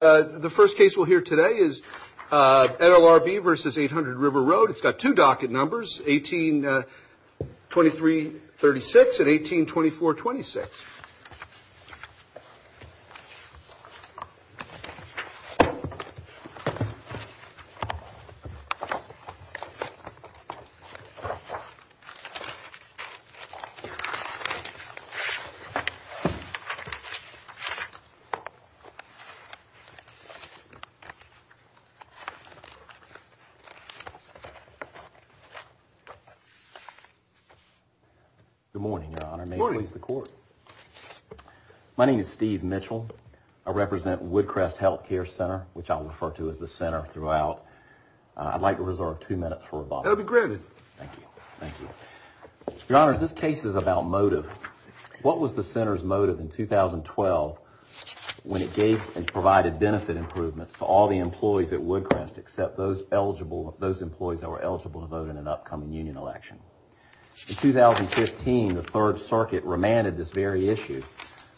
The first case we'll hear today is NLRB v. 800River Road. It's got two docket numbers, 182336 and 182426. Good morning, Your Honor. Good morning. May it please the Court. My name is Steve Mitchell. I represent Woodcrest Healthcare Center, which I'll refer to as the center throughout. I'd like to reserve two minutes for rebuttal. That'll be granted. Thank you. Thank you. Your Honor, this case is about motive. What was the center's motive in 2012 when it gave and provided benefit improvements to all the employees at Woodcrest except those employees that were eligible to vote in an upcoming union election? In 2015, the Third Circuit remanded this very issue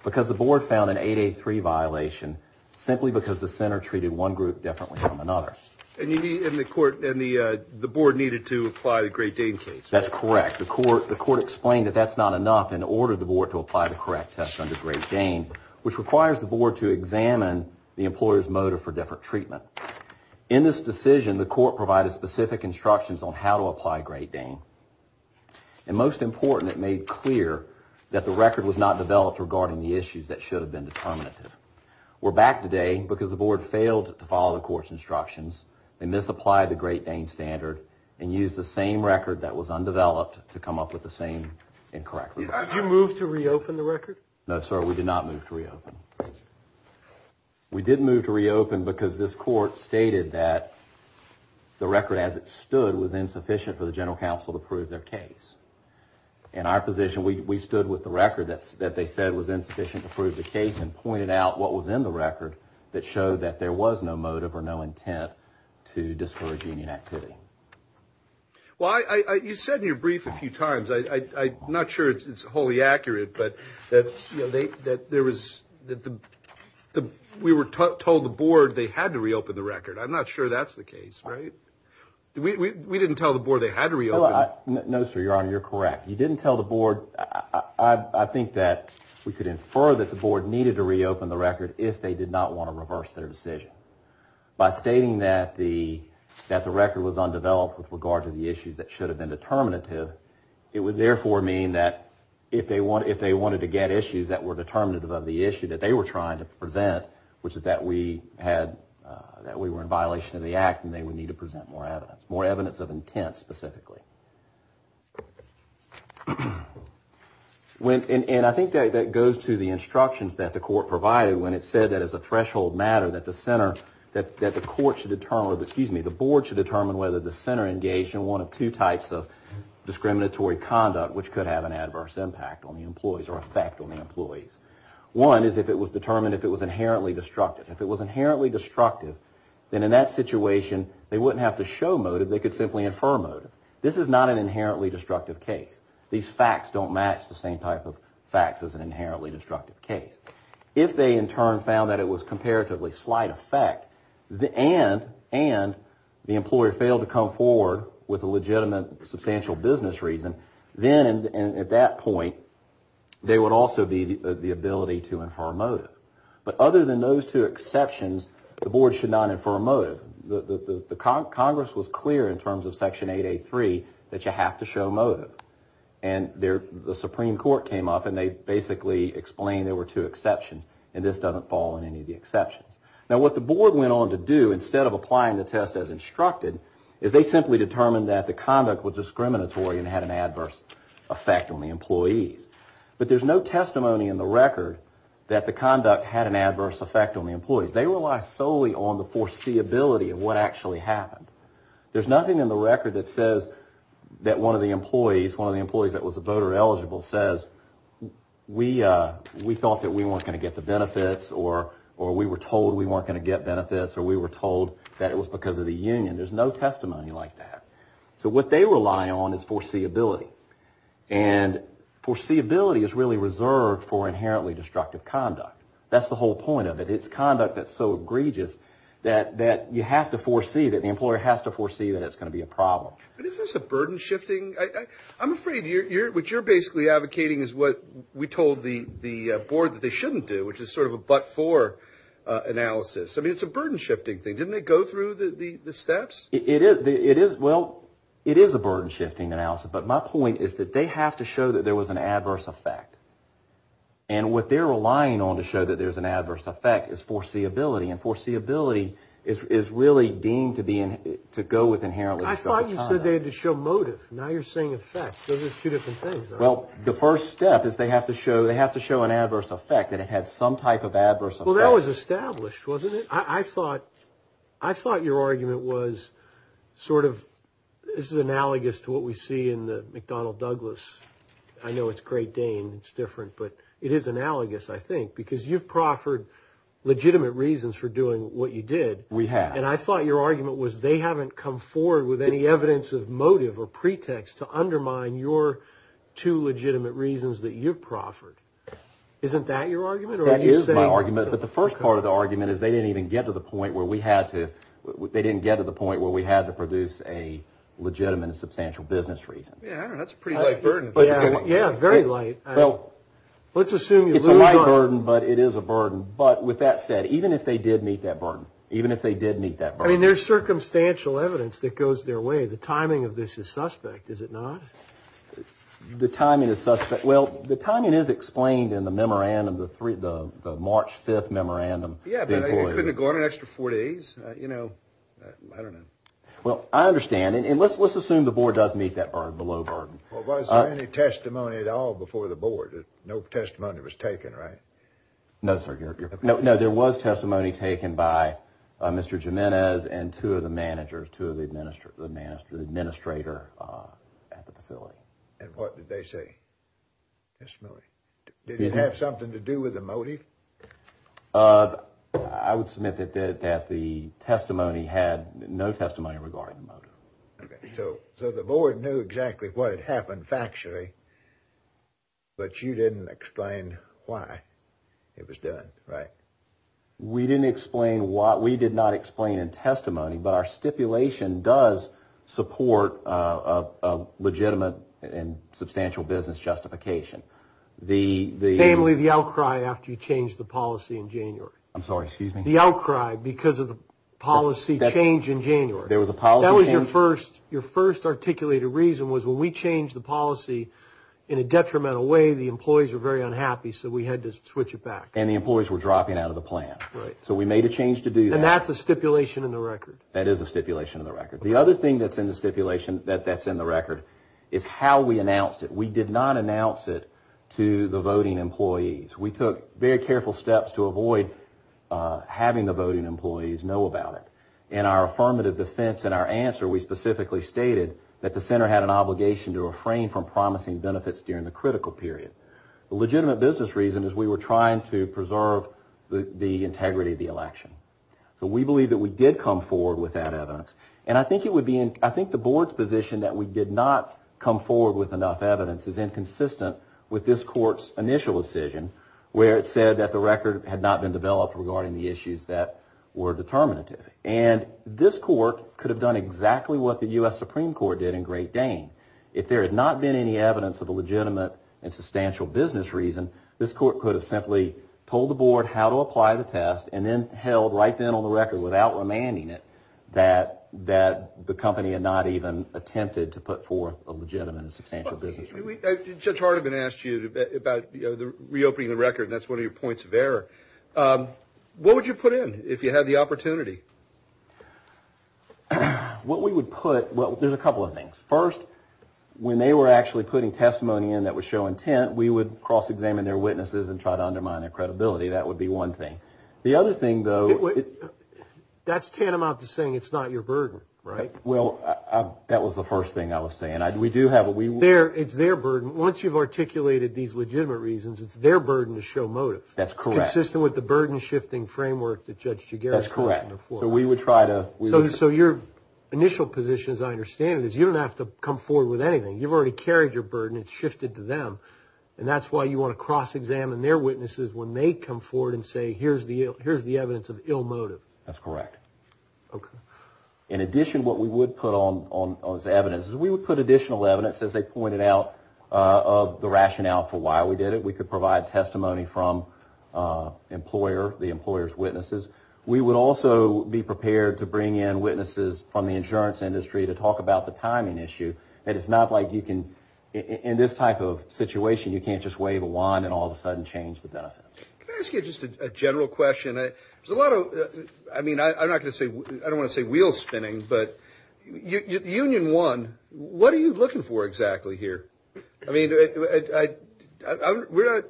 because the board found an 8A3 violation simply because the center treated one group differently from another. And the board needed to apply the Great Dane case. That's correct. The court explained that that's not enough and ordered the board to apply the correct test under Great Dane, which requires the board to examine the employer's motive for different treatment. In this decision, the court provided specific instructions on how to apply Great Dane. And most important, it made clear that the record was not developed regarding the issues that should have been determinative. We're back today because the board failed to follow the court's instructions. They misapplied the Great Dane standard and used the same record that was undeveloped to come up with the same incorrect record. Did you move to reopen the record? No, sir, we did not move to reopen. We did move to reopen because this court stated that the record as it stood was insufficient for the general counsel to prove their case. In our position, we stood with the record that they said was insufficient to prove the case and pointed out what was in the record that showed that there was no motive or no intent to discourage any activity. Well, you said in your brief a few times, I'm not sure it's wholly accurate, but that we were told the board they had to reopen the record. I'm not sure that's the case, right? We didn't tell the board they had to reopen. No, sir, Your Honor, you're correct. You didn't tell the board. I think that we could infer that the board needed to reopen the record if they did not want to reverse their decision. By stating that the record was undeveloped with regard to the issues that should have been determinative, it would therefore mean that if they wanted to get issues that were determinative of the issue that they were trying to present, which is that we were in violation of the act and they would need to present more evidence, more evidence of intent specifically. And I think that goes to the instructions that the court provided when it said that as a threshold matter that the court should determine, excuse me, the board should determine whether the center engaged in one of two types of discriminatory conduct which could have an adverse impact on the employees or effect on the employees. One is if it was determined if it was inherently destructive. If it was inherently destructive, then in that situation they wouldn't have to show motive. They could simply infer motive. This is not an inherently destructive case. These facts don't match the same type of facts as an inherently destructive case. If they in turn found that it was comparatively slight effect and the employer failed to come forward with a legitimate substantial business reason, then at that point there would also be the ability to infer motive. But other than those two exceptions, the board should not infer motive. The Congress was clear in terms of Section 8A3 that you have to show motive. And the Supreme Court came up and they basically explained there were two exceptions and this doesn't fall in any of the exceptions. Now what the board went on to do instead of applying the test as instructed is they simply determined that the conduct was discriminatory and had an adverse effect on the employees. But there's no testimony in the record that the conduct had an adverse effect on the employees. They rely solely on the foreseeability of what actually happened. There's nothing in the record that says that one of the employees, one of the employees that was voter eligible says we thought that we weren't going to get the benefits or we were told we weren't going to get benefits or we were told that it was because of the union. There's no testimony like that. So what they rely on is foreseeability. And foreseeability is really reserved for inherently destructive conduct. That's the whole point of it. It's conduct that's so egregious that you have to foresee, that the employer has to foresee that it's going to be a problem. But is this a burden shifting? I'm afraid what you're basically advocating is what we told the board that they shouldn't do, which is sort of a but-for analysis. I mean it's a burden shifting thing. Didn't it go through the steps? It is. Well, it is a burden shifting analysis. But my point is that they have to show that there was an adverse effect. And what they're relying on to show that there's an adverse effect is foreseeability. And foreseeability is really deemed to go with inherently destructive conduct. I thought you said they had to show motive. Now you're saying effect. Those are two different things. Well, the first step is they have to show an adverse effect, that it had some type of adverse effect. Well, that was established, wasn't it? I thought your argument was sort of this is analogous to what we see in the McDonnell Douglas. I know it's Great Dane. It's different. But it is analogous, I think, because you've proffered legitimate reasons for doing what you did. We have. And I thought your argument was they haven't come forward with any evidence of motive or pretext to undermine your two legitimate reasons that you've proffered. Isn't that your argument? That is my argument. But the first part of the argument is they didn't even get to the point where we had to produce a legitimate and substantial business reason. Yeah, I don't know. That's a pretty light burden. Yeah, very light. Well, it's a light burden, but it is a burden. But with that said, even if they did meet that burden, even if they did meet that burden. I mean, there's circumstantial evidence that goes their way. The timing of this is suspect, is it not? The timing is suspect. The March 5th memorandum. Yeah, but it couldn't have gone an extra four days. You know, I don't know. Well, I understand. And let's assume the board does meet that burden, the low burden. Well, was there any testimony at all before the board? No testimony was taken, right? No, sir. No, there was testimony taken by Mr. Jimenez and two of the managers, two of the administrators at the facility. And what did they say? Testimony. Did it have something to do with the motive? I would submit that the testimony had no testimony regarding the motive. Okay, so the board knew exactly what had happened factually, but you didn't explain why it was done, right? We didn't explain why. We did not explain in testimony, but our stipulation does support a legitimate and substantial business justification. Namely, the outcry after you changed the policy in January. I'm sorry, excuse me? The outcry because of the policy change in January. There was a policy change? That was your first articulated reason was when we changed the policy in a detrimental way, the employees were very unhappy, so we had to switch it back. And the employees were dropping out of the plan, so we made a change to do that. And that's a stipulation in the record? That is a stipulation in the record. The other thing that's in the stipulation that's in the record is how we announced it. We did not announce it to the voting employees. We took very careful steps to avoid having the voting employees know about it. In our affirmative defense in our answer, we specifically stated that the center had an obligation to refrain from promising benefits during the critical period. The legitimate business reason is we were trying to preserve the integrity of the election. So we believe that we did come forward with that evidence. And I think the board's position that we did not come forward with enough evidence is inconsistent with this court's initial decision, where it said that the record had not been developed regarding the issues that were determinative. And this court could have done exactly what the U.S. Supreme Court did in Great Dane if there had not been any evidence of a legitimate and substantial business reason, this court could have simply told the board how to apply the test and then held right then on the record without remanding it that the company had not even attempted to put forth a legitimate and substantial business reason. Judge Hardeman asked you about reopening the record, and that's one of your points of error. What would you put in if you had the opportunity? What we would put, well, there's a couple of things. First, when they were actually putting testimony in that would show intent, we would cross-examine their witnesses and try to undermine their credibility. That would be one thing. The other thing, though... That's tantamount to saying it's not your burden, right? Well, that was the first thing I was saying. We do have a... It's their burden. Once you've articulated these legitimate reasons, it's their burden to show motive. That's correct. Consistent with the burden-shifting framework that Judge Gigeras mentioned before. That's correct. So we would try to... So your initial position, as I understand it, is you don't have to come forward with anything. You've already carried your burden. It's shifted to them. And that's why you want to cross-examine their witnesses when they come forward and say, here's the evidence of ill motive. That's correct. Okay. In addition, what we would put on as evidence is we would put additional evidence, as they pointed out, of the rationale for why we did it. We could provide testimony from the employer's witnesses. We would also be prepared to bring in witnesses from the insurance industry to talk about the timing issue. And it's not like you can... In this type of situation, you can't just wave a wand and all of a sudden change the benefits. Can I ask you just a general question? There's a lot of... I mean, I'm not going to say... I don't want to say wheel-spinning, but Union 1, what are you looking for exactly here? I mean, we're not...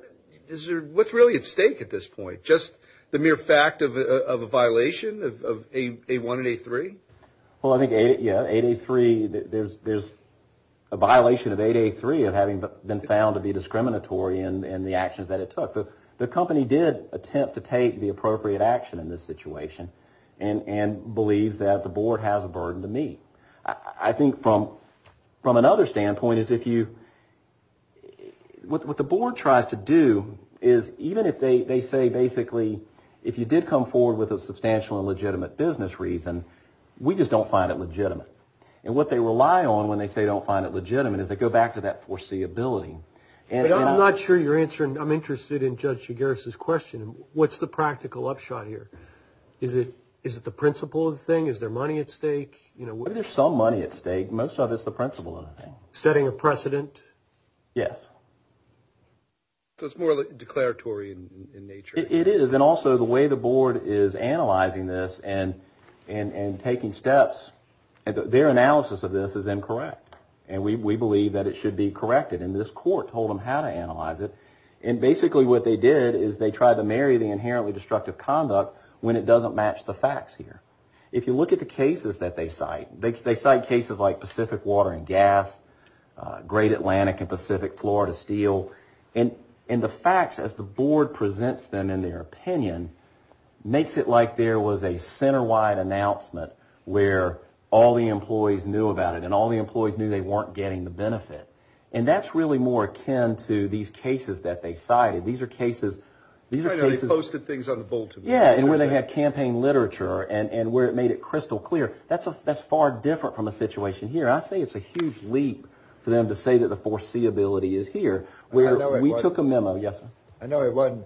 What's really at stake at this point? Just the mere fact of a violation of A1 and A3? Well, I think, yeah, 8A3... There's a violation of 8A3 of having been found to be discriminatory in the actions that it took. The company did attempt to take the appropriate action in this situation and believes that the board has a burden to meet. I think from another standpoint is if you... What the board tries to do is even if they say, basically, if you did come forward with a substantial and legitimate business reason, we just don't find it legitimate. And what they rely on when they say they don't find it legitimate is they go back to that foreseeability. I'm not sure you're answering... I'm interested in Judge Shigaris' question. What's the practical upshot here? Is it the principle of the thing? Is there money at stake? Maybe there's some money at stake. Most of it's the principle of the thing. Setting a precedent? Yes. So it's more declaratory in nature. It is. And also the way the board is analyzing this and taking steps, their analysis of this is incorrect. And we believe that it should be corrected. And this court told them how to analyze it. And basically what they did is they tried to marry the inherently destructive conduct when it doesn't match the facts here. If you look at the cases that they cite, they cite cases like Pacific Water and Gas, Great Atlantic and Pacific Florida Steel. And the facts, as the board presents them in their opinion, makes it like there was a center-wide announcement where all the employees knew about it and all the employees knew they weren't getting the benefit. And that's really more akin to these cases that they cited. These are cases... They posted things on the bulletin board. Yes, and where they had campaign literature and where it made it crystal clear. That's far different from a situation here. I say it's a huge leap for them to say that the foreseeability is here. We took a memo. Yes, sir. I know it wasn't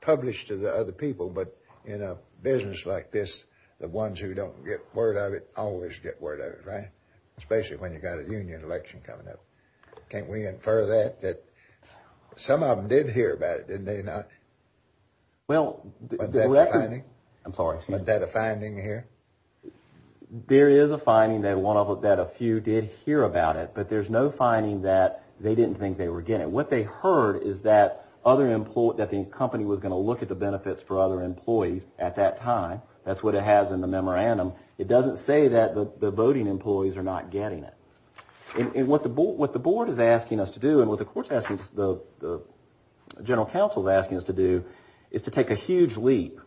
published to the other people, but in a business like this, the ones who don't get word of it always get word of it, right? Especially when you've got a union election coming up. Can't we infer that? Some of them did hear about it, didn't they? Well... Was that a finding? I'm sorry. Was that a finding here? There is a finding that a few did hear about it, but there's no finding that they didn't think they were getting it. What they heard is that the company was going to look at the benefits for other employees at that time. That's what it has in the memorandum. It doesn't say that the voting employees are not getting it. And what the board is asking us to do and what the general counsel is asking us to do is to take a huge leap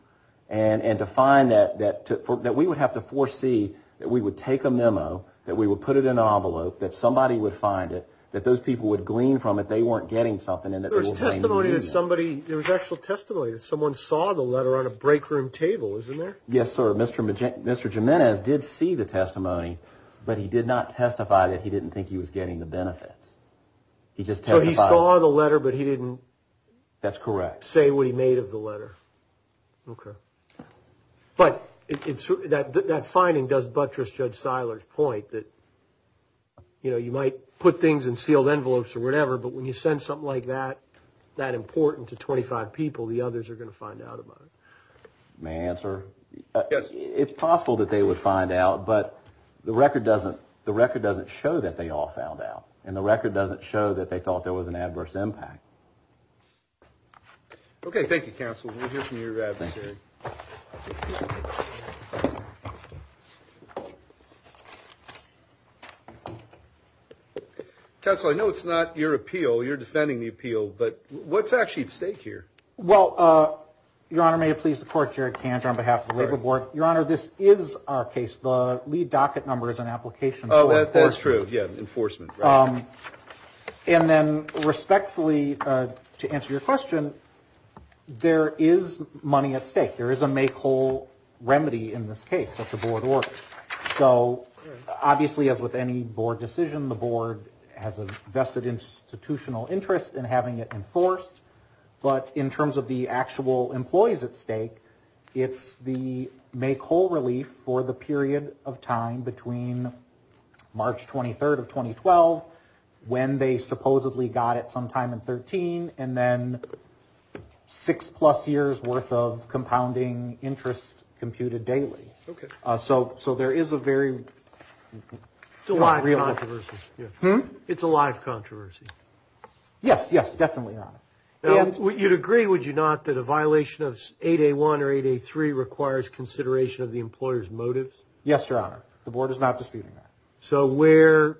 and to find that we would have to foresee that we would take a memo, that we would put it in an envelope, that somebody would find it, that those people would glean from it they weren't getting something, and that they would blame the union. There was testimony that somebody... There was actual testimony that someone saw the letter on a break room table, isn't there? Yes, sir. Mr. Jimenez did see the testimony, but he did not testify that he didn't think he was getting the benefits. He just testified... So he saw the letter, but he didn't... That's correct. ...say what he made of the letter. Okay. But that finding does buttress Judge Seiler's point that you might put things in sealed envelopes or whatever, but when you send something like that, that important to 25 people, the others are going to find out about it. May I answer? Yes. It's possible that they would find out, but the record doesn't show that they all found out, and the record doesn't show that they thought there was an adverse impact. Okay, thank you, counsel. We'll hear from your advocate. Thank you. Counsel, I know it's not your appeal. You're defending the appeal, but what's actually at stake here? Well, Your Honor, may it please the court, Jared Kant on behalf of the labor board. Your Honor, this is our case. The lead docket number is an application... Oh, that's true. Yeah, enforcement. And then respectfully, to answer your question, there is money at stake. There is a make whole remedy in this case that the board orders. So obviously, as with any board decision, the board has a vested institutional interest in having it enforced, but in terms of the actual employees at stake, it's the make whole relief for the period of time between March 23rd of 2012, when they supposedly got it sometime in 2013, and then six plus years worth of compounding interest computed daily. Okay. So there is a very... It's a live controversy. Hmm? It's a live controversy. Yes, yes, definitely, Your Honor. You'd agree, would you not, that a violation of 8A1 or 8A3 requires consideration of the employer's motives? Yes, Your Honor. The board is not disputing that. So where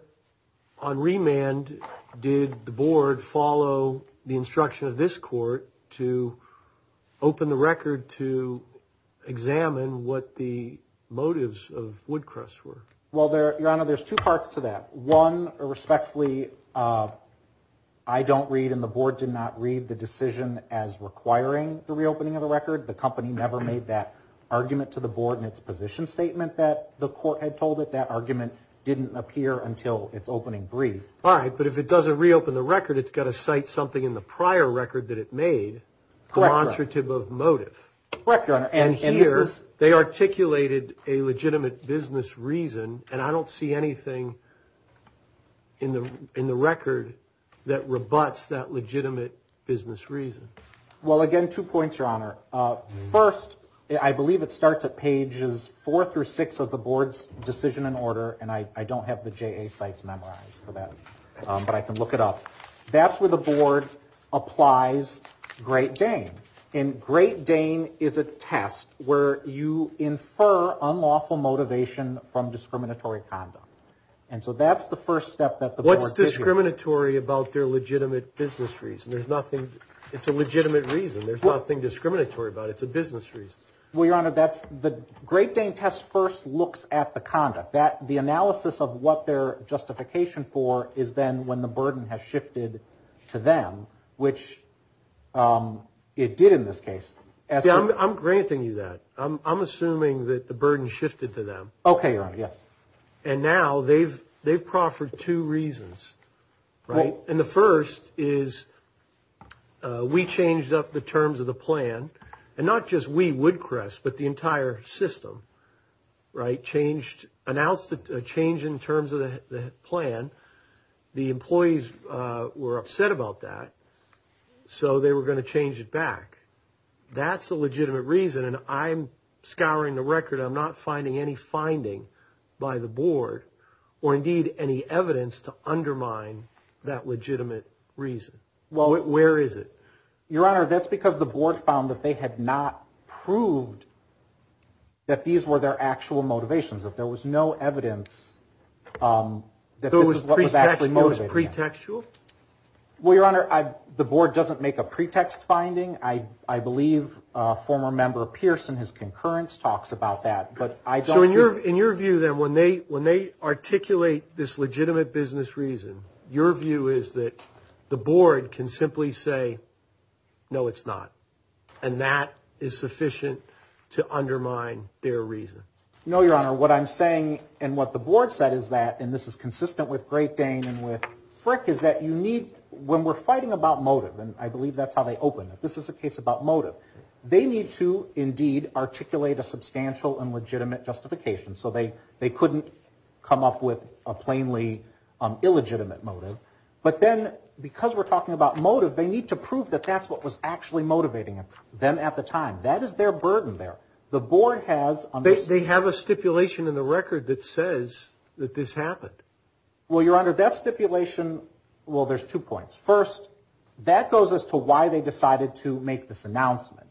on remand did the board follow the instruction of this court to open the record to examine what the motives of Woodcrest were? Well, Your Honor, there's two parts to that. One, respectfully, I don't read and the board did not read the decision as requiring the reopening of the record. The company never made that argument to the board in its position statement that the court had told it. That argument didn't appear until its opening brief. All right, but if it doesn't reopen the record, it's got to cite something in the prior record that it made... Correct, Your Honor. ...conservative of motive. Correct, Your Honor. And here, they articulated a legitimate business reason, and I don't see anything in the record that rebuts that legitimate business reason. Well, again, two points, Your Honor. First, I believe it starts at pages 4 through 6 of the board's decision and order, and I don't have the JA sites memorized for that, but I can look it up. That's where the board applies Great Dane. And Great Dane is a test where you infer unlawful motivation from discriminatory conduct. And so that's the first step that the board did here. What's discriminatory about their legitimate business reason? There's nothing. It's a legitimate reason. There's nothing discriminatory about it. It's a business reason. Well, Your Honor, the Great Dane test first looks at the conduct. The analysis of what their justification for is then when the burden has shifted to them, which it did in this case. I'm granting you that. I'm assuming that the burden shifted to them. Okay, Your Honor, yes. And now they've proffered two reasons, right? And the first is we changed up the terms of the plan, and not just we, Woodcrest, but the entire system, right, announced a change in terms of the plan. The employees were upset about that, so they were going to change it back. That's a legitimate reason, and I'm scouring the record. I'm not finding any finding by the board or, indeed, any evidence to undermine that legitimate reason. Well, where is it? Your Honor, that's because the board found that they had not proved that these were their actual motivations, that there was no evidence that this was what was actually motivated. So it was pretextual? Well, Your Honor, the board doesn't make a pretext finding. I believe former member Pearson, his concurrence, talks about that. So in your view, then, when they articulate this legitimate business reason, your view is that the board can simply say, no, it's not, and that is sufficient to undermine their reason. No, Your Honor, what I'm saying and what the board said is that, and this is consistent with Great Dane and with Frick, is that you need, when we're fighting about motive, and I believe that's how they open it, this is a case about motive, they need to, indeed, articulate a substantial and legitimate justification, so they couldn't come up with a plainly illegitimate motive. But then, because we're talking about motive, they need to prove that that's what was actually motivating them at the time. That is their burden there. They have a stipulation in the record that says that this happened. Well, Your Honor, that stipulation, well, there's two points. First, that goes as to why they decided to make this announcement.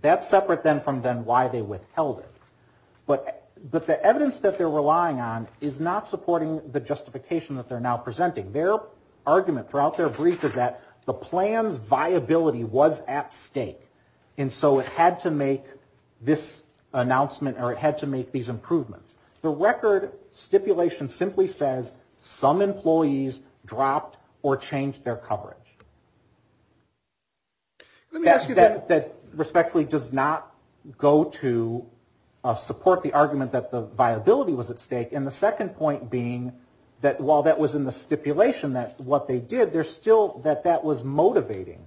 That's separate then from then why they withheld it. But the evidence that they're relying on is not supporting the justification that they're now presenting. Their argument throughout their brief is that the plan's viability was at stake, and so it had to make this announcement, or it had to make these improvements. The record stipulation simply says some employees dropped or changed their coverage. That respectfully does not go to support the argument that the viability was at stake, and the second point being that while that was in the stipulation, what they did, they're still, that that was motivating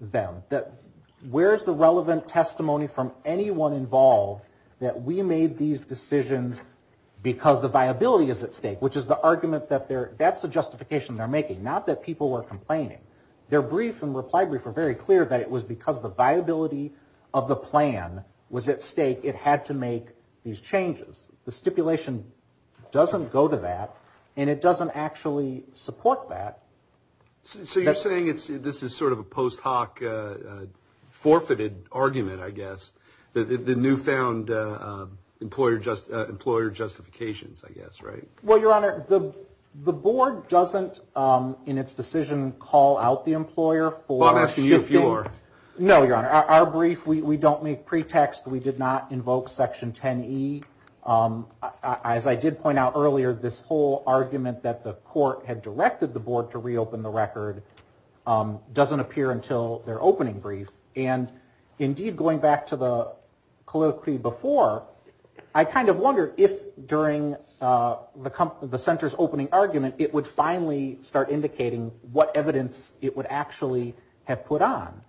them. That where's the relevant testimony from anyone involved that we made these decisions because the viability is at stake, which is the argument that they're, that's the justification they're making. Not that people were complaining. Their brief and reply brief were very clear that it was because the viability of the plan was at stake, it had to make these changes. The stipulation doesn't go to that, and it doesn't actually support that. So you're saying this is sort of a post hoc forfeited argument, I guess. The new found employer justifications, I guess, right? Well, Your Honor, the board doesn't in its decision call out the employer for shifting. Well, I'm asking you if you are. No, Your Honor. Our brief, we don't make pretext. We did not invoke Section 10E. As I did point out earlier, this whole argument that the court had directed the board to reopen the record doesn't appear until their opening brief. And indeed, going back to the colloquy before, I kind of wonder if during the center's opening argument, it would finally start indicating what evidence it would actually have put on.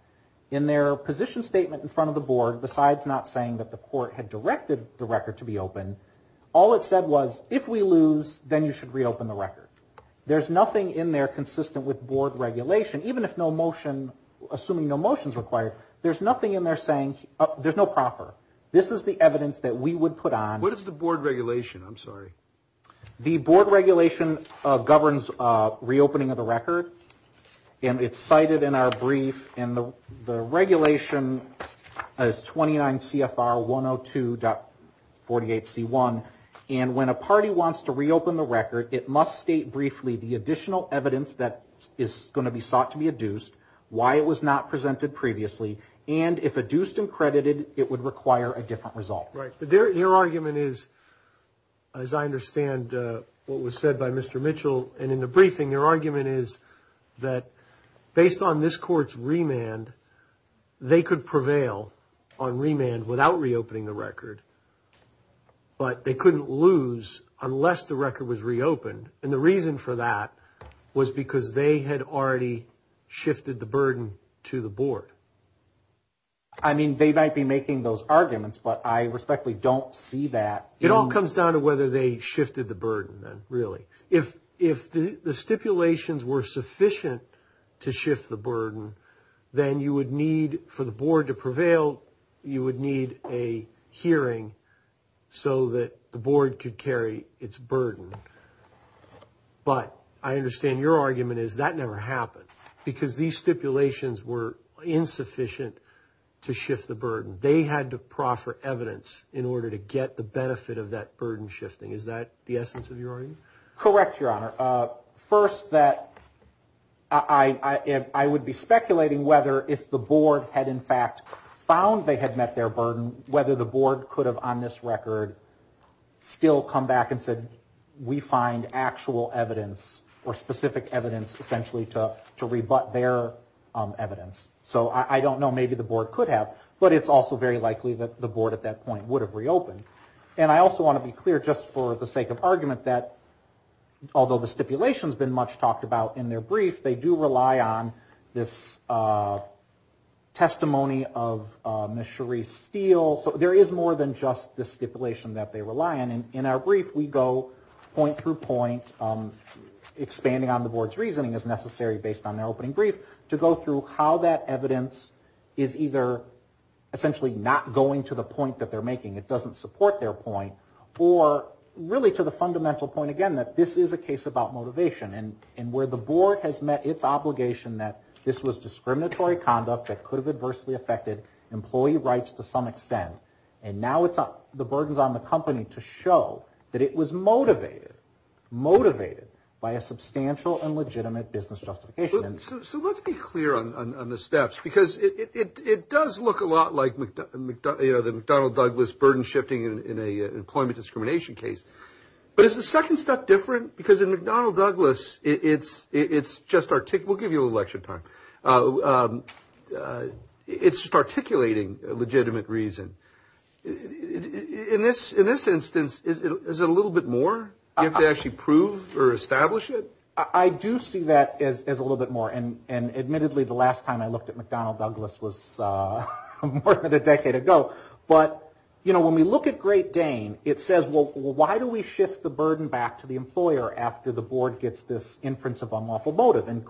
In their position statement in front of the board, besides not saying that the court had directed the record to be opened, all it said was, if we lose, then you should reopen the record. There's nothing in there consistent with board regulation, even if no motion, assuming no motion is required, there's nothing in there saying, oh, there's no proffer. This is the evidence that we would put on. What is the board regulation? I'm sorry. The board regulation governs reopening of the record, and it's cited in our brief. And the regulation is 29 CFR 102.48C1. And when a party wants to reopen the record, it must state briefly the additional evidence that is going to be sought to be adduced, why it was not presented previously, and if adduced and credited, it would require a different result. Right. But your argument is, as I understand what was said by Mr. Mitchell and in the briefing, your argument is that based on this court's remand, they could prevail on remand without reopening the record, but they couldn't lose unless the record was reopened. And the reason for that was because they had already shifted the burden to the board. I mean, they might be making those arguments, but I respectfully don't see that. It all comes down to whether they shifted the burden, really. If the stipulations were sufficient to shift the burden, then you would need for the board to prevail, you would need a hearing so that the board could carry its burden. But I understand your argument is that never happened because these stipulations were insufficient to shift the burden. They had to proffer evidence in order to get the benefit of that burden shifting. Is that the essence of your argument? Correct, Your Honor. First, that I would be speculating whether if the board had in fact found they had met their burden, whether the board could have on this record still come back and said, we find actual evidence or specific evidence essentially to rebut their evidence. So I don't know. Maybe the board could have, but it's also very likely that the board at that point would have reopened. And I also want to be clear just for the sake of argument that although the stipulation has been much talked about in their brief, they do rely on this testimony of Ms. Cherise Steele. So there is more than just the stipulation that they rely on. In our brief, we go point through point, expanding on the board's reasoning as necessary based on their opening brief, to go through how that evidence is either essentially not going to the point that they're making, it doesn't support their point, or really to the fundamental point, again, that this is a case about motivation. And where the board has met its obligation that this was discriminatory conduct that could have adversely affected employee rights to some extent, and now it's the burden's on the company to show that it was motivated, motivated by a substantial and legitimate business justification. So let's be clear on the steps, because it does look a lot like, you know, the McDonnell Douglas burden shifting in an employment discrimination case. But is the second step different? Because in McDonnell Douglas, it's just articulating a legitimate reason. In this instance, is it a little bit more? Do you have to actually prove or establish it? I do see that as a little bit more. And admittedly, the last time I looked at McDonnell Douglas was more than a decade ago. But, you know, when we look at Great Dane, it says, well, why do we shift the burden back to the employer after the board gets this inference of unlawful motive? And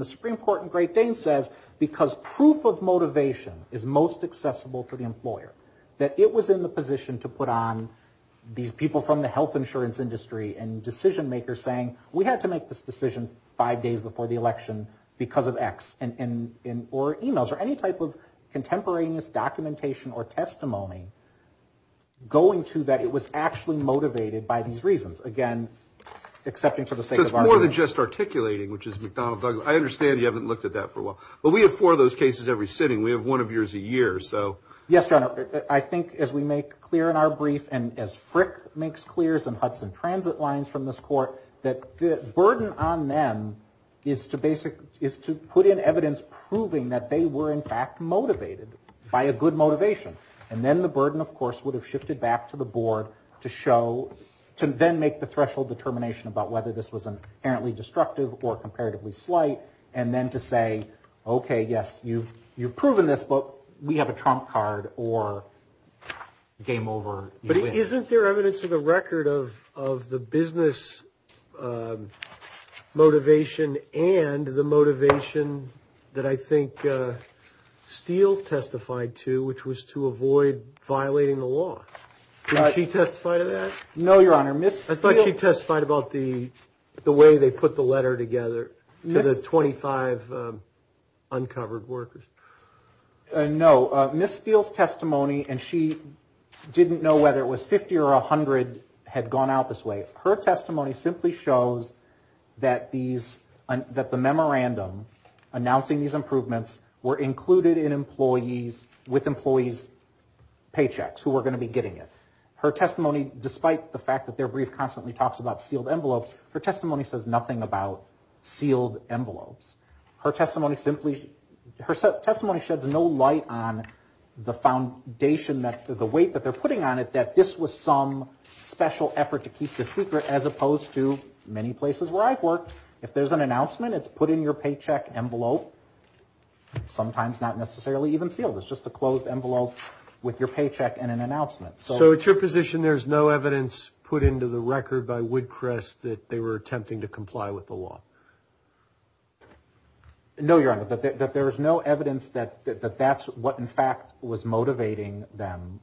the Supreme Court in Great Dane says, because proof of motivation is most accessible to the employer, that it was in the position to put on these people from the health insurance industry and decision makers saying, we had to make this decision five days before the election because of X, or emails, or any type of contemporaneous documentation or testimony going to that it was actually motivated by these reasons. Again, accepting for the sake of argument. So it's more than just articulating, which is McDonnell Douglas. I understand you haven't looked at that for a while. But we have four of those cases every sitting. We have one of yours a year, so. Yes, Your Honor. I think as we make clear in our brief and as Frick makes clear and Hudson Transit lines from this court, that the burden on them is to put in evidence proving that they were in fact motivated by a good motivation. And then the burden, of course, would have shifted back to the board to show, to then make the threshold determination about whether this was inherently destructive or comparatively slight, and then to say, okay, yes, you've proven this, but we have a trump card or game over. But isn't there evidence to the record of the business motivation and the motivation that I think Steele testified to, which was to avoid violating the law? Did she testify to that? No, Your Honor. I thought she testified about the way they put the letter together to the 25 uncovered workers. No. Ms. Steele's testimony, and she didn't know whether it was 50 or 100 had gone out this way, her testimony simply shows that the memorandum announcing these improvements were included in employees with employees' paychecks who were going to be getting it. Her testimony, despite the fact that their brief constantly talks about sealed envelopes, her testimony says nothing about sealed envelopes. Her testimony simply, her testimony sheds no light on the foundation, the weight that they're putting on it that this was some special effort to keep this secret, as opposed to many places where I've worked. If there's an announcement, it's put in your paycheck envelope, sometimes not necessarily even sealed. It's just a closed envelope with your paycheck and an announcement. So it's your position there's no evidence put into the record by Woodcrest that they were attempting to comply with the law? No, Your Honor, that there's no evidence that that's what, in fact, was motivating them.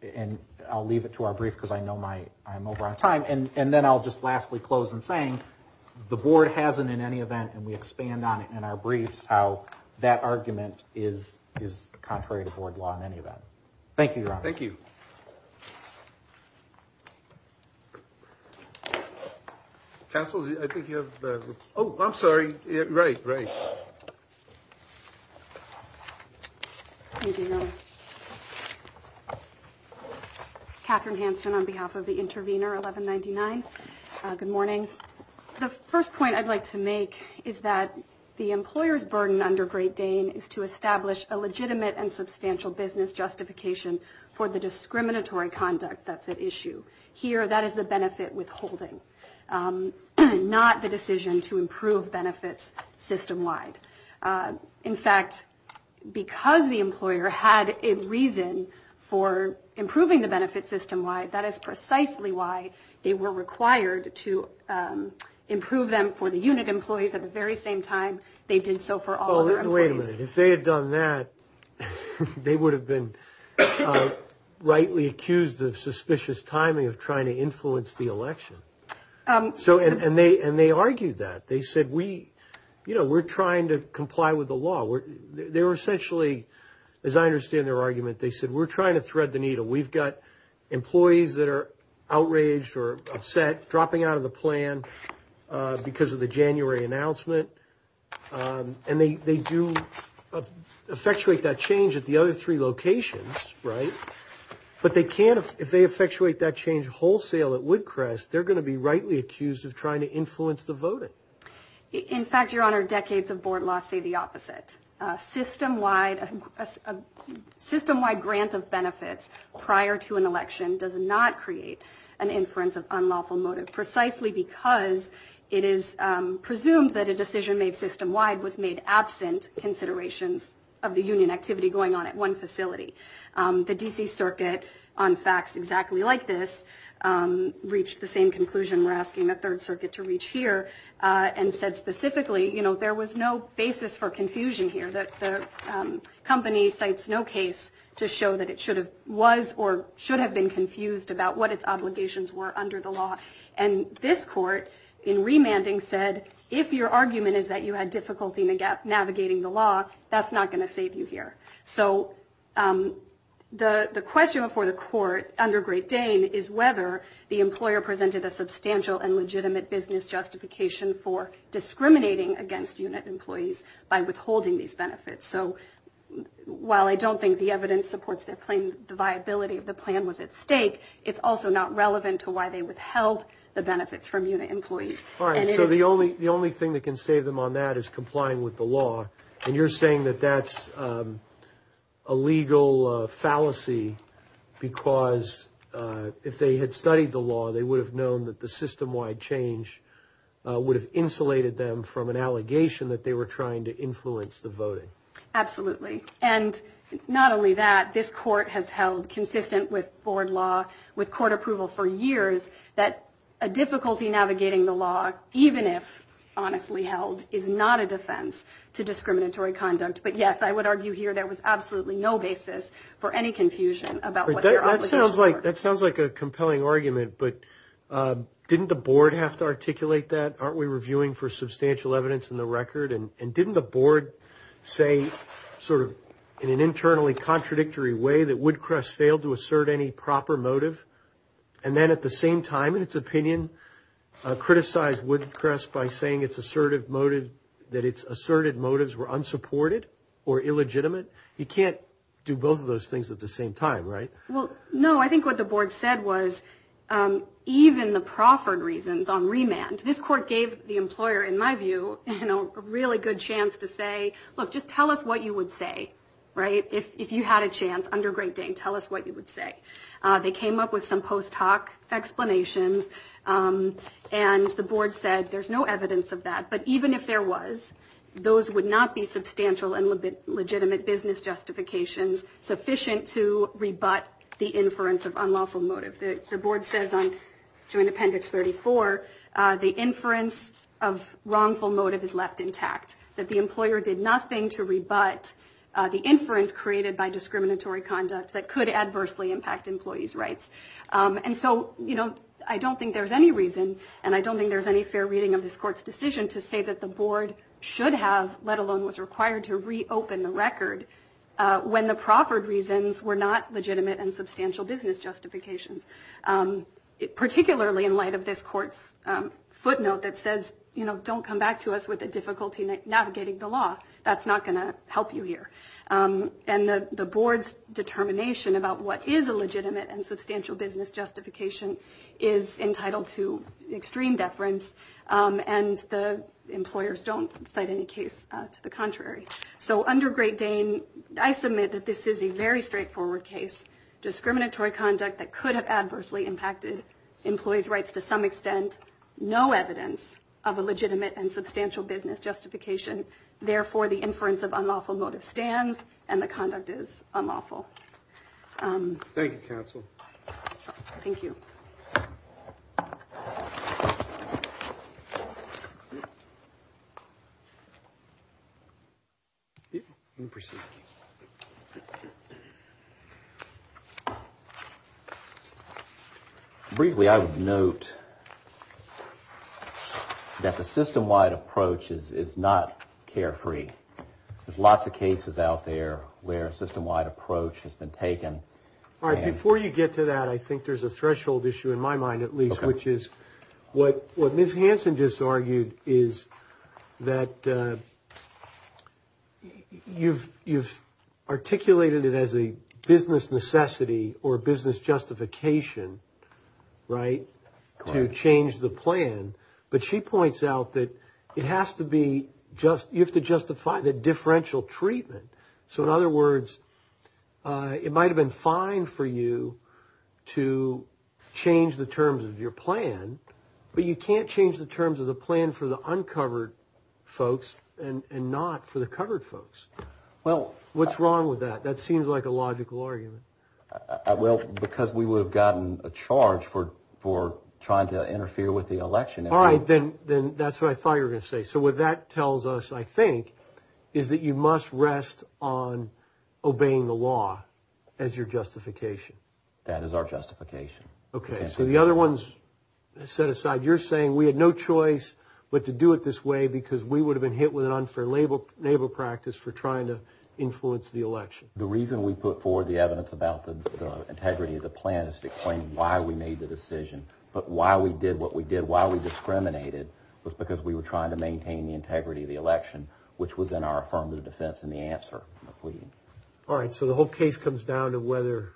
And I'll leave it to our brief because I know I'm over on time. And then I'll just lastly close in saying the board hasn't in any event, and we expand on it in our briefs how that argument is contrary to board law in any event. Thank you, Your Honor. Thank you. Counsel, I think you have. Oh, I'm sorry. Right, right. Catherine Hansen on behalf of the intervener 1199. Good morning. The first point I'd like to make is that the employer's burden under Great Dane is to establish a legitimate and substantial business justification for the discriminatory conduct that's at issue. Here, that is the benefit withholding, not the decision to improve benefits systemwide. In fact, because the employer had a reason for improving the benefits systemwide, that is precisely why they were required to improve them for the unit employees at the very same time they did so for all. Wait a minute. If they had done that, they would have been rightly accused of suspicious timing of trying to influence the election. And they argued that. They said, you know, we're trying to comply with the law. They were essentially, as I understand their argument, they said, we're trying to thread the needle. We've got employees that are outraged or upset, dropping out of the plan because of the January announcement. And they do effectuate that change at the other three locations. Right. But they can't. If they effectuate that change wholesale at Woodcrest, they're going to be rightly accused of trying to influence the voting. In fact, Your Honor, decades of board loss say the opposite. Systemwide, a system wide grant of benefits prior to an election does not create an inference of unlawful motive, precisely because it is presumed that a decision made system wide was made absent considerations of the union activity going on at one facility. The D.C. Circuit on facts exactly like this reached the same conclusion. We're asking the Third Circuit to reach here and said specifically, you know, there was no basis for confusion here. The company cites no case to show that it should have was or should have been confused about what its obligations were under the law. And this court in remanding said, if your argument is that you had difficulty navigating the law, that's not going to save you here. So the question for the court under Great Dane is whether the employer presented a substantial and legitimate business justification for discriminating against unit employees by withholding these benefits. So while I don't think the evidence supports their claim, the viability of the plan was at stake. It's also not relevant to why they withheld the benefits from unit employees. All right. So the only the only thing that can save them on that is complying with the law. And you're saying that that's a legal fallacy because if they had studied the law, they would have known that the system wide change would have insulated them from an allegation that they were trying to influence the voting. Absolutely. And not only that, this court has held consistent with board law, with court approval for years, that a difficulty navigating the law, even if honestly held, is not a defense to discriminatory conduct. But, yes, I would argue here there was absolutely no basis for any confusion about what that sounds like. That sounds like a compelling argument. But didn't the board have to articulate that? Aren't we reviewing for substantial evidence in the record? And didn't the board say sort of in an internally contradictory way that Woodcrest failed to assert any proper motive? And then at the same time, in its opinion, criticized Woodcrest by saying it's assertive motive, that it's asserted motives were unsupported or illegitimate. You can't do both of those things at the same time. Right. Well, no, I think what the board said was even the proffered reasons on remand. This court gave the employer, in my view, a really good chance to say, look, just tell us what you would say. Right. If you had a chance under Great Dane, tell us what you would say. They came up with some post hoc explanations and the board said there's no evidence of that. But even if there was, those would not be substantial and legitimate business justifications sufficient to rebut the inference of unlawful motive. The board says on Joint Appendix 34, the inference of wrongful motive is left intact, that the employer did nothing to rebut the inference created by discriminatory conduct that could adversely impact employees rights. And so, you know, I don't think there's any reason. And I don't think there's any fair reading of this court's decision to say that the board should have, let alone was required to reopen the record when the proffered reasons were not legitimate and substantial business justifications, particularly in light of this court's footnote that says, you know, don't come back to us with a difficulty navigating the law. That's not going to help you here. And the board's determination about what is a legitimate and substantial business justification is entitled to extreme deference. And the employers don't cite any case to the contrary. So under Great Dane, I submit that this is a very straightforward case. Discriminatory conduct that could have adversely impacted employees rights to some extent. No evidence of a legitimate and substantial business justification. Therefore, the inference of unlawful motive stands and the conduct is unlawful. Thank you, counsel. Thank you. Briefly, I would note that the system wide approach is not carefree. There's lots of cases out there where a system wide approach has been taken. All right. Before you get to that, I think there's a threshold issue in my mind, at least, which is what what Ms. Hansen just argued is that you've you've articulated it as a business necessity or business justification. Right. To change the plan. But she points out that it has to be just you have to justify the differential treatment. So in other words, it might have been fine for you to change the terms of your plan, but you can't change the terms of the plan for the uncovered folks and not for the covered folks. Well, what's wrong with that? That seems like a logical argument. Well, because we would have gotten a charge for for trying to interfere with the election. All right. Then then that's what I thought you were going to say. So what that tells us, I think, is that you must rest on obeying the law as your justification. That is our justification. OK, so the other ones set aside, you're saying we had no choice, but to do it this way because we would have been hit with an unfair label, label practice for trying to influence the election. The reason we put forward the evidence about the integrity of the plan is to explain why we made the decision, but why we did what we did, why we discriminated was because we were trying to maintain the integrity of the election, which was in our affirmative defense in the answer. All right. So the whole case comes down to whether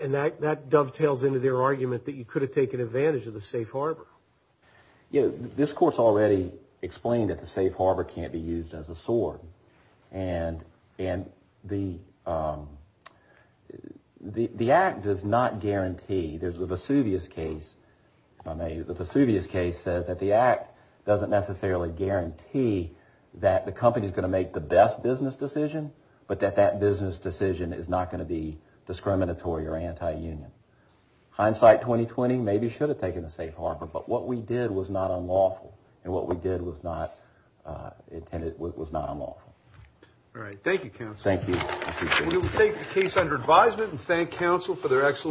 and that dovetails into their argument that you could have taken advantage of the safe harbor. You know, this course already explained that the safe harbor can't be used as a sword. And the the act does not guarantee there's a Vesuvius case. The Vesuvius case says that the act doesn't necessarily guarantee that the company is going to make the best business decision, but that that business decision is not going to be discriminatory or anti-union. Hindsight 2020 maybe should have taken the safe harbor. But what we did was not unlawful and what we did was not intended was not unlawful. All right. Thank you, counsel. Thank you. We will take the case under advisement and thank counsel for their excellent.